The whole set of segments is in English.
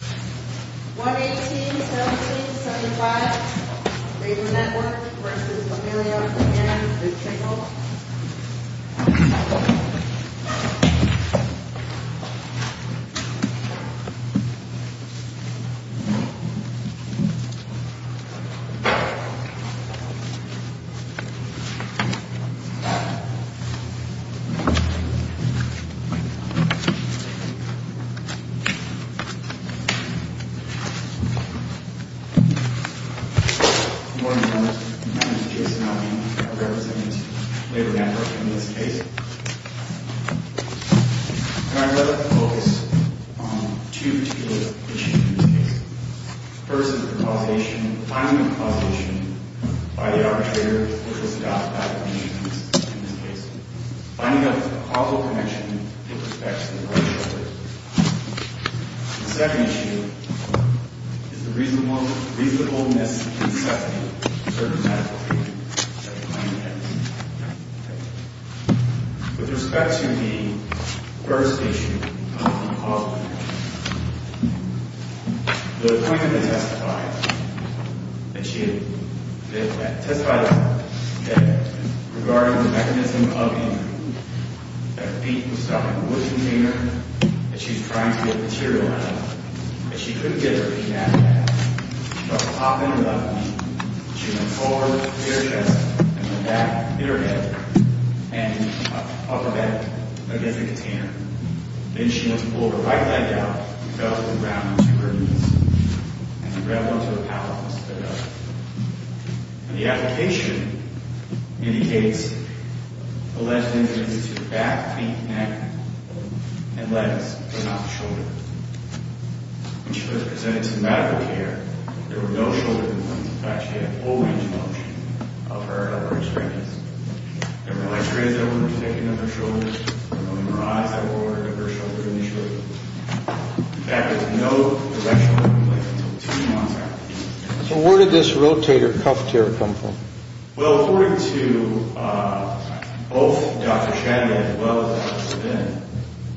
118-17-75 Raider Network v. Lamelia and the Chagall Good morning, members. My name is Jason Almey. I'm a representative of the Labor Network in this case. And I'd like to focus on two particular issues in this case. First is the finding of a causation by the arbitrator, which was adopted by the commission in this case. Finding a causal connection that respects the rights of others. The second issue is the reasonableness in accepting certain medical treatment that the claimant has. With respect to the first issue of the causal connection, the claimant testified that regarding the mechanism of the that her feet were stuck in a wood container, that she was trying to get material out of it, that she couldn't get her feet out of it. She started popping it up. She went forward with her chest, and went back with her head, and up her back against the container. Then she went to pull her right leg out and fell to the ground onto her knees. And she grabbed onto a pallet and sped up. The application indicates a lessening of the distance between the back, feet, neck, and legs, but not the shoulder. When she was presented some medical care, there were no shoulder movements, but she had a full range of motion of her experience. There were no x-rays that were undertaken of her shoulders. There were no MRIs that were ordered of her shoulders initially. In fact, there was no direct shoulder movement until two months after. So where did this rotator cuff tear come from? Well, according to both Dr. Shatner, as well as Dr. Finn,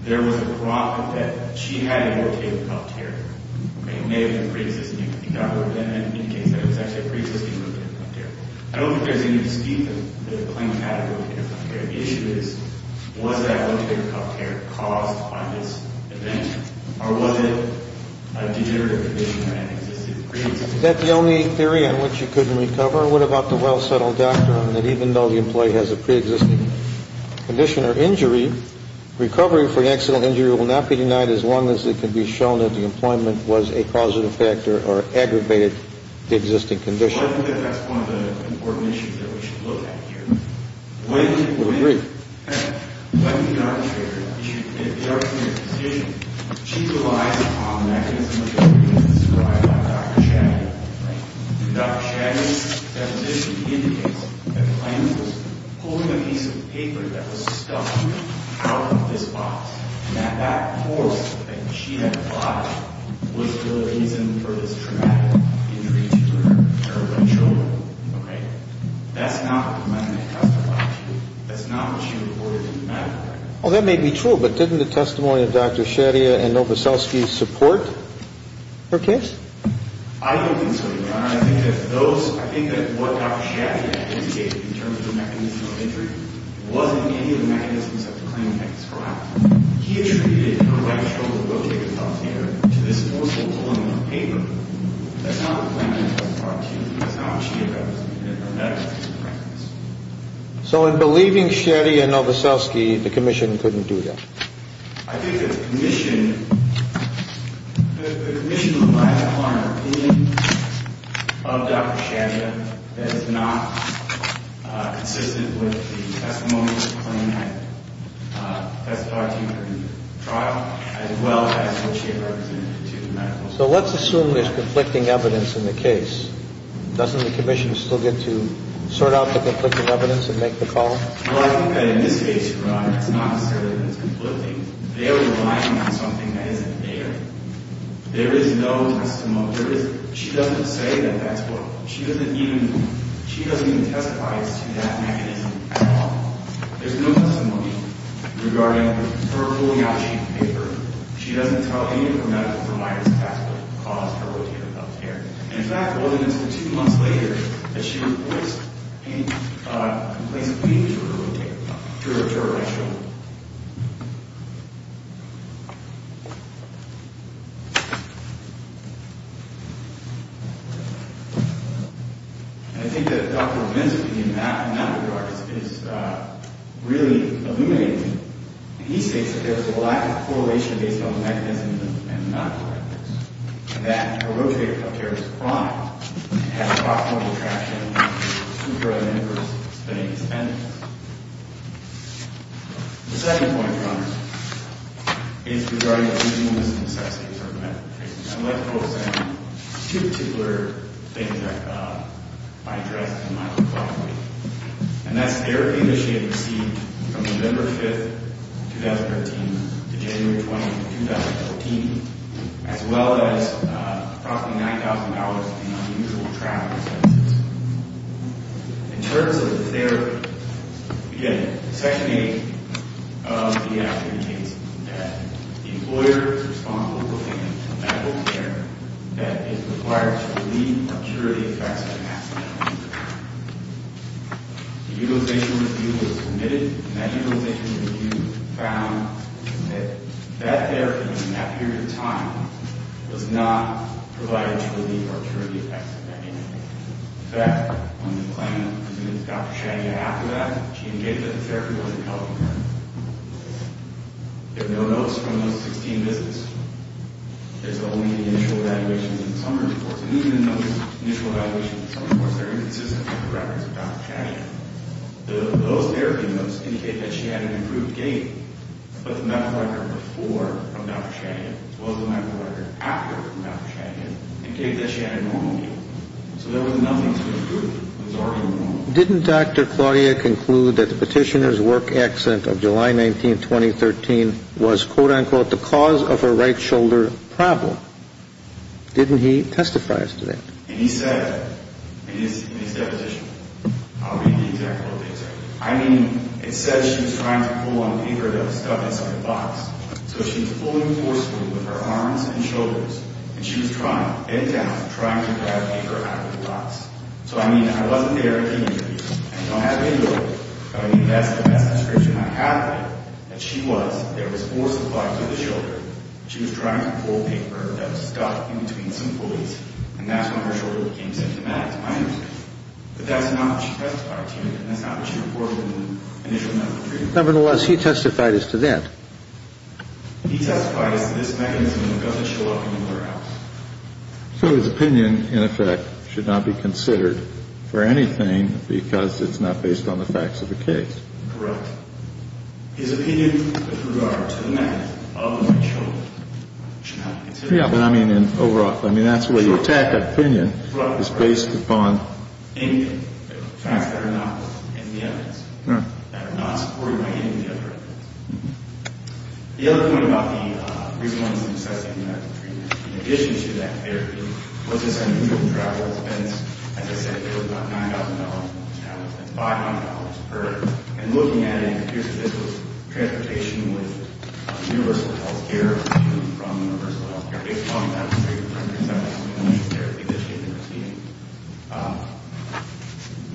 there was a problem that she had a rotator cuff tear. It may have been pre-existing, you can think about it, but in any case, it was actually a pre-existing rotator cuff tear. I don't think there's any dispute that the claimant had a rotator cuff tear. The issue is, was that rotator cuff tear caused by this event, or was it a degenerative condition or an existing condition? Is that the only theory on which you couldn't recover? What about the well-settled doctrine that even though the employee has a pre-existing condition or injury, recovery for the accidental injury will not be denied as long as it can be shown that the employment was a positive factor or aggravated the existing condition? Well, I think that that's one of the important issues that we should look at here. I would agree. When the arbitrator issued the decision, she relied on the mechanism of the injury as described by Dr. Shatner. Dr. Shatner's deposition indicates that the claimant was holding a piece of paper that was stuck out of this box and that that force that she had applied was the reason for this traumatic injury to her right shoulder. That's not what the claimant testified to. That's not what she reported in the medical record. Oh, that may be true, but didn't the testimony of Dr. Shatner and Novoselsky support her case? I don't think so, Your Honor. I think that what Dr. Shatner indicated in terms of the mechanism of injury wasn't any of the mechanisms that the claimant had described. He attributed her right shoulder rotator cuff tear to this force that was holding the paper. That's not what the claimant testified to. That's not what she had represented in her medical records. So in believing Shetty and Novoselsky, the commission couldn't do that? I think that the commission would rely upon an opinion of Dr. Shatner that is not consistent with the testimony of the claimant testified to in the trial as well as what she had represented to the medical record. So let's assume there's conflicting evidence in the case. Doesn't the commission still get to sort out the conflicting evidence and make the call? Well, I think that in this case, Your Honor, it's not necessarily that it's conflicting. They are relying on something that isn't there. There is no testimony. She doesn't say that that's what. She doesn't even testify as to that mechanism at all. There's no testimony regarding her pulling out sheet paper. She doesn't tell any of her medical providers that that's what caused her rotator cuff tear. And, in fact, it wasn't until two months later that she was released and complains of bleeding from her rotator, her right shoulder. And I think that Dr. Vinson, in that regard, is really illuminating. He states that there's a lack of correlation based on the mechanism and not the mechanism, that a rotator cuff tear is a crime. It has a possible attraction to her and her spending expenses. The second point, Your Honor, is regarding the using of this necessity for medical treatment. I'd like to focus on two particular things that I addressed in my testimony. And that's therapy that she had received from November 5, 2013, to January 20, 2014, as well as approximately $9,000 in unusual travel expenses. In terms of the therapy, again, Section 8 of the act indicates that the employer is responsible for providing medical care that is required to relieve or cure the effects of an accident. The Utilization Review was submitted, and that Utilization Review found that that therapy, in that period of time, was not provided to relieve or cure the effects of that injury. In fact, when the claimant presumes Dr. Chania after that, she indicates that the therapy wasn't helping her. There are no notes from those 16 visits. There's only the initial evaluations and summary reports. And even in those initial evaluations and summary reports, they're inconsistent with the records of Dr. Chania. Those therapy notes indicate that she had an improved gait, but the medical record before from Dr. Chania was the medical record after from Dr. Chania, indicating that she had a normal gait. So there was nothing to improve. It was already normal. Didn't Dr. Claudia conclude that the petitioner's work accident of July 19, 2013 was, quote-unquote, the cause of her right shoulder problem? Didn't he testify to that? He said in his deposition, I'll read the exact quote. I mean, it says she was trying to pull on paper that was stuck inside a box. So she was pulling forcefully with her arms and shoulders, and she was trying, bent down, trying to grab paper out of the box. So, I mean, I wasn't there at the interview. I don't have any evidence, but I mean, that's the best description I have of it, that she was, there was force applied to the shoulder. She was trying to pull paper that was stuck in between some pulleys, and that's when her shoulder became symptomatic, to my understanding. But that's not what she testified to, and that's not what she reported in the initial medical treatment. Nevertheless, he testified as to that. He testified as to this mechanism that doesn't show up anywhere else. So his opinion, in effect, should not be considered for anything because it's not based on the facts of the case. Correct. His opinion with regard to the method of the right shoulder should not be considered. Yeah, but I mean, overall, I mean, that's where the attack of opinion is based upon. Right, right. Any facts that are not in the evidence, that are not supported by any of the other evidence. The other point about the recent ones in assessing medical treatment, in addition to that therapy, was this unusual travel expense. As I said, it was about $9,000 in travel expense, $500 per, and looking at it, if this was transportation with universal health care or even from universal health care, based upon the fact that it was $370,000 for the initial therapy that she had been receiving,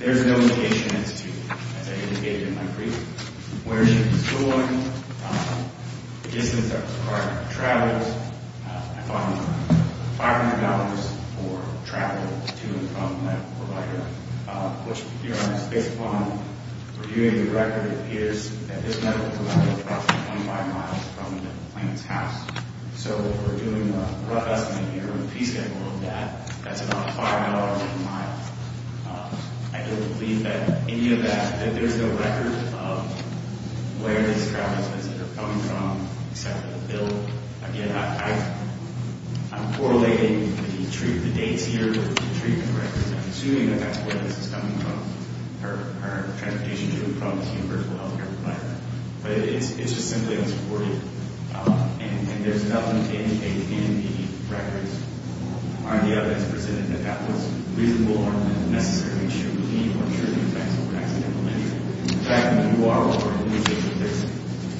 there's no indication as to, as I indicated in my brief, where she was going, the distance that was required to travel. I found $500 for travel to and from that provider, which, to be honest, based upon reviewing the record, it appears that this medical provider is approximately 25 miles from the plaintiff's house. So, if we're doing a rough estimate here, or a piece table of that, that's about $5 a mile. I don't believe that any of that, that there's no record of where these travel expenses are coming from, except for the bill. Again, I'm correlating the dates here with the treatment records. I'm assuming that that's where this is coming from, her transportation to and from the universal health care provider. But it's just simply unsupported. And there's nothing to indicate in the records, are the evidence presented that that was reasonable or not necessarily true to me or true to the effects of an accidental injury. In fact, you are already indicating that there's,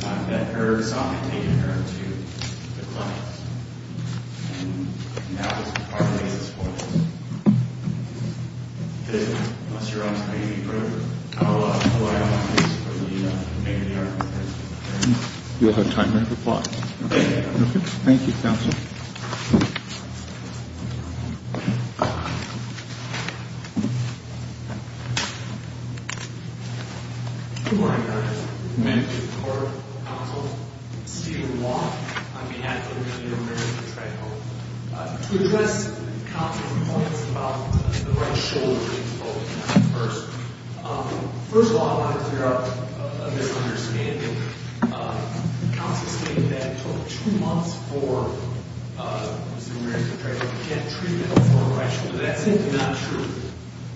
that her son had taken her to the clinic. And that was part of the basis for this. It is not, unless you're honest with me, you can prove how reliable this is for the, maybe the argument is. You'll have time to reply. Okay. Thank you, Counsel. Good morning, Your Honor. Thank you. I'm Steve Long, on behalf of the New York Marriott Treadmill. To address counsel's points about the right shoulder, first of all, I want to clear up a misunderstanding. Counsel stated that it took two months for the New York Marriott Treadmill to get treatment for a right shoulder. That's simply not true.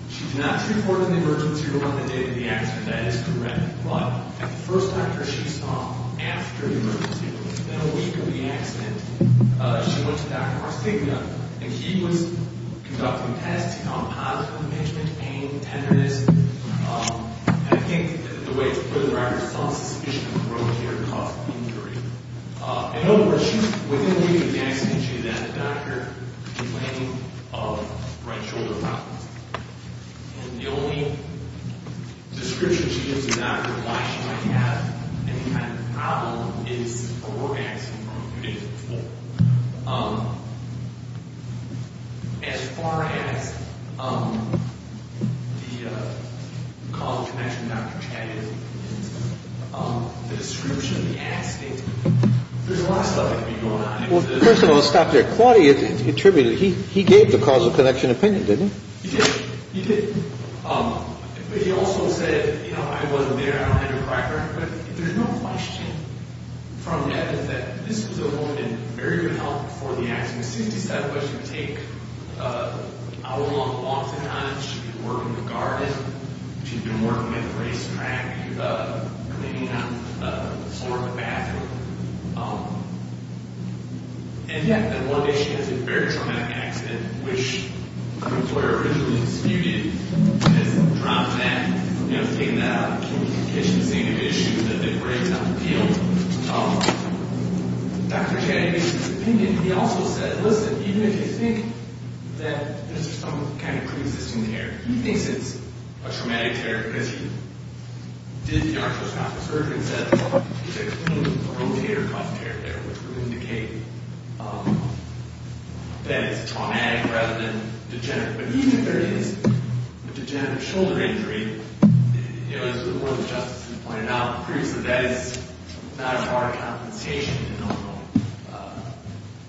She did not treat for it in the emergency room on the day of the accident. That is correct. But at the first doctor she saw after the emergency room, within a week of the accident, she went to Dr. Martinez. And he was conducting tests. He found positive impeachment, pain, tenderness. I think the way to put it, I have some suspicion of a rotator cuff injury. In other words, within a week of the accident, she had a doctor complaining of right shoulder problems. And the only description she gives the doctor of why she might have any kind of problem is her orgasm from a few days before. As far as the cause of connection with Dr. Chatty is concerned, the description of the accident, there's a lot of stuff that could be going on. First of all, stop there. Claudia contributed. He gave the cause of connection opinion, didn't he? He did. He did. But he also said, you know, I wasn't there. I don't have your background. But there's no question from evidence that this was a woman in very good health before the accident. As soon as he said it was going to take an hour-long walk to get on it, she'd be working the garden, she'd be working at the racetrack, cleaning up the floor of the bathroom. And yet, one day she has a very traumatic accident, which her employer originally disputed. She has dropped that, you know, taken that out of communication, saying it was an issue that they were worried about the appeal. Dr. Chatty gave his opinion. He also said, listen, even if you think that this is some kind of pre-existing tear, he thinks it's a traumatic tear because he did the arthroscopic surgery and said it's a completely rotator cuff tear there, which would indicate that it's traumatic rather than degenerative. But even if there is a degenerative shoulder injury, you know, as the Board of Justice has pointed out, it proves that that is not a far compensation in the long run.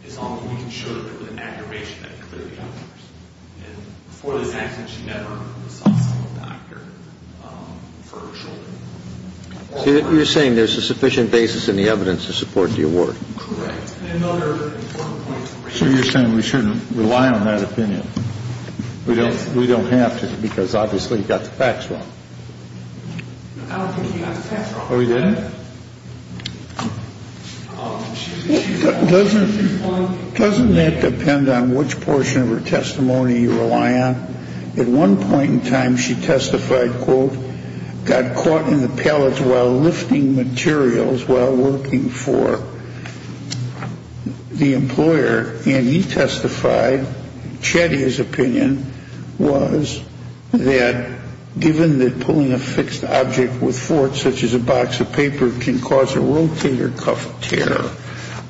It's only when you can show that there was an aggravation that it clearly occurs. And before this accident, she never saw a doctor for her shoulder. So you're saying there's a sufficient basis in the evidence to support the award. Correct. And another important point. So you're saying we shouldn't rely on that opinion. We don't have to because obviously he got the facts wrong. I don't think he got the facts wrong. Oh, he didn't? Doesn't that depend on which portion of her testimony you rely on? At one point in time, she testified, quote, got caught in the pellets while lifting materials while working for the employer. And he testified, Chetty's opinion was that given that pulling a fixed object with force, such as a box of paper, can cause a rotator cuff tear,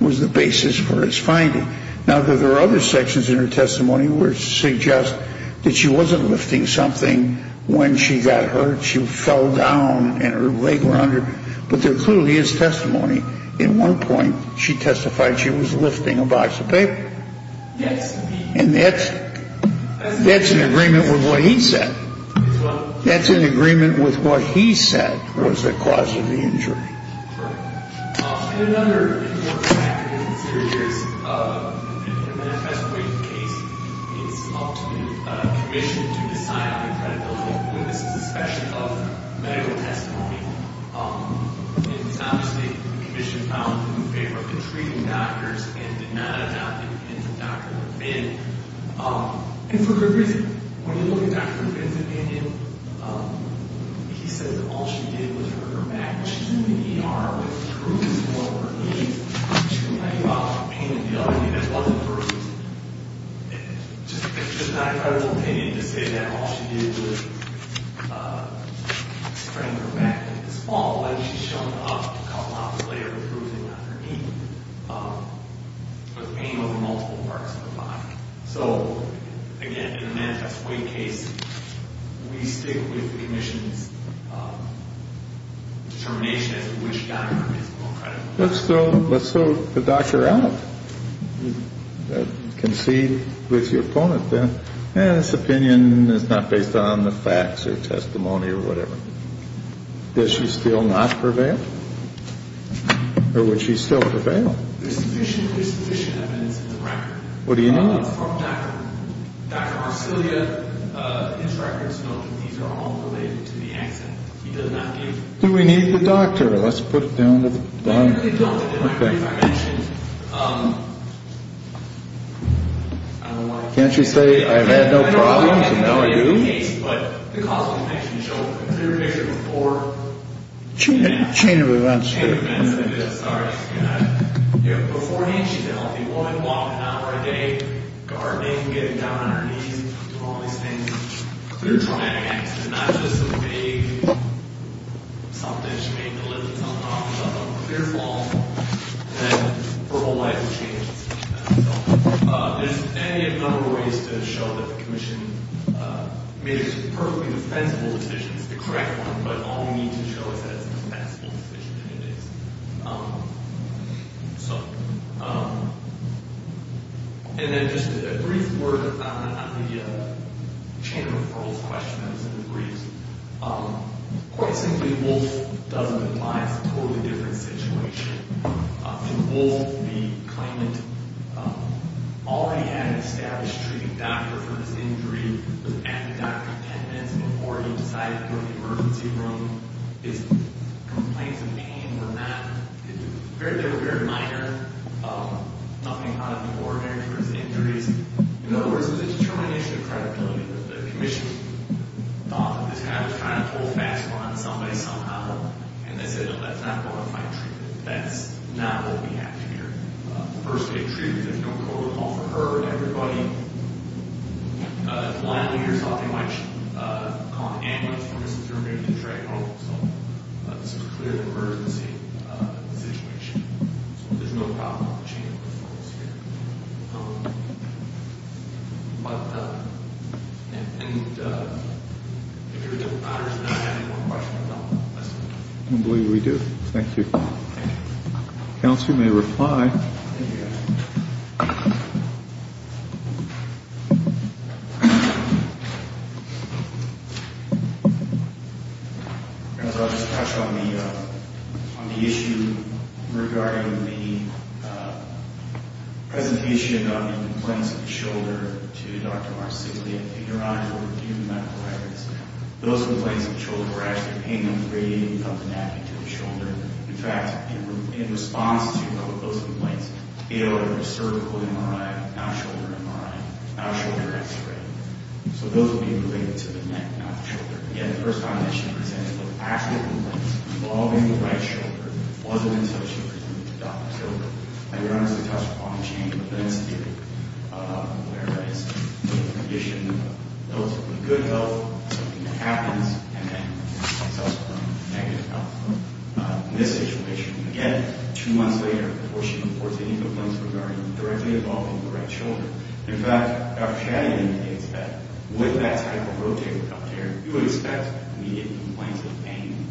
was the basis for his finding. Now, there are other sections in her testimony which suggest that she wasn't lifting something when she got hurt. She fell down and her leg went under. But there clearly is testimony. At one point, she testified she was lifting a box of paper. And that's in agreement with what he said. That's in agreement with what he said was the cause of the injury. And another factor to consider here is in a manifesto case, it's up to the commission to decide on the credibility of the witnesses, especially of medical testimony. And it's obviously the commission found in favor of treating doctors and did not adopt it into Dr. McBain. And for good reason. When you look at Dr. McBain's opinion, he said that all she did was hurt her back. What she didn't mean was bruising one of her knees. She was talking about pain in the other knee that wasn't bruised. It's just not her opinion to say that all she did was sprain her back. This fall, when she showed up a couple of hours later, bruising on her knee. But the pain was in multiple parts of her body. So, again, in a manifesto case, we stick with the commission's determination as to which doctor is more credible. Let's throw the doctor out. Concede with your opponent that this opinion is not based on the facts or testimony or whatever. Does she still not prevail? Or would she still prevail? There's sufficient evidence in the record. What do you need? From Dr. Arcelia. His records note that these are all related to the accident. He does not need... Do we need the doctor? Let's put it down at the bottom. They don't. As I mentioned, I don't want to... Can't you say, I've had no problems and now I do? I don't want to get into the case, but the cause of infection showed up in clear picture before... Chain of events. Chain of events. Sorry. Beforehand, she's a healthy woman, walking out every day, gardening, getting down on her knees, doing all these things. They're traumatic accidents. It's not just a vague... Something, she may have delivered something off of a clear fall, and then her whole life has changed. There's many other ways to show that the commission made perfectly defensible decisions to correct one, but all we need to show is that it's a defensible decision and it is. So... And then just a brief word on the chain of referrals question that was in the briefs. Quite simply, both doesn't apply. It's a totally different situation. Both the claimant already had an established treating doctor for his injury. There was an antidote for 10 minutes before he decided to go to the emergency room. His complaints of pain were not... They were very minor. Nothing out of the ordinary for his injuries. In other words, it was a determination of credibility. The commission thought that this guy was trying to pull fast one on somebody somehow, and they said, no, that's not bona fide treatment. That's not what we have here. First aid treatment. There's no protocol for her and everybody. Blind leaders often might call an ambulance for Mr. Thurman to drag home. So this is a clear emergency situation. There's no problem with the chain of referrals here. But... I don't believe we do. Thank you. Counselor, you may reply. Thank you. I'll just touch on the issue regarding the presentation of the implants in the shoulder to Dr. Marsiglia. Those complaints of the shoulder were actually pain numbers radiating from the neck into the shoulder. In fact, in response to those complaints, he had a cervical MRI, now shoulder MRI, now shoulder X-ray. So those would be related to the neck, not the shoulder. Yet the first time that she presented, the actual implants involving the right shoulder wasn't associated with Dr. Thurman. I would honestly touch upon the chain of events here, where it's a condition of relatively good health, something that happens, and then subsequently negative health. In this situation, again, two months later, before she reports any complaints regarding directly involving the right shoulder. In fact, Dr. Shadid indicates that with that type of rotator cuff there, you would expect immediate complaints of pain.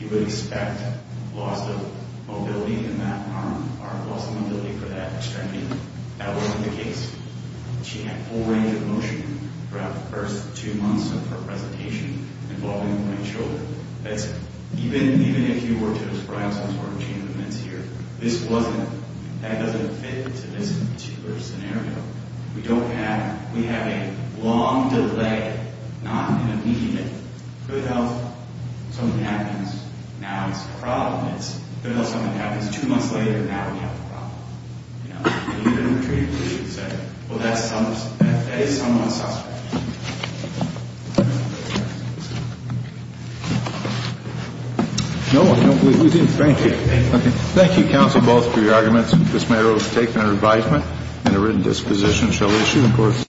You would expect loss of mobility in that arm, or loss of mobility for that extremity. That wasn't the case. She had full range of motion throughout the first two months of her presentation involving the right shoulder. Even if you were to describe some sort of chain of events here, that doesn't fit into this particular scenario. We have a long delay, not an immediate, good health, something happens, now it's a problem. It's good health, something happens, two months later, now we have a problem. You know? And you're going to treat a patient and say, well, that is somewhat suspect. No, we didn't. Thank you. Thank you, counsel, both for your arguments. This matter was taken under advisement and a written disposition shall be issued.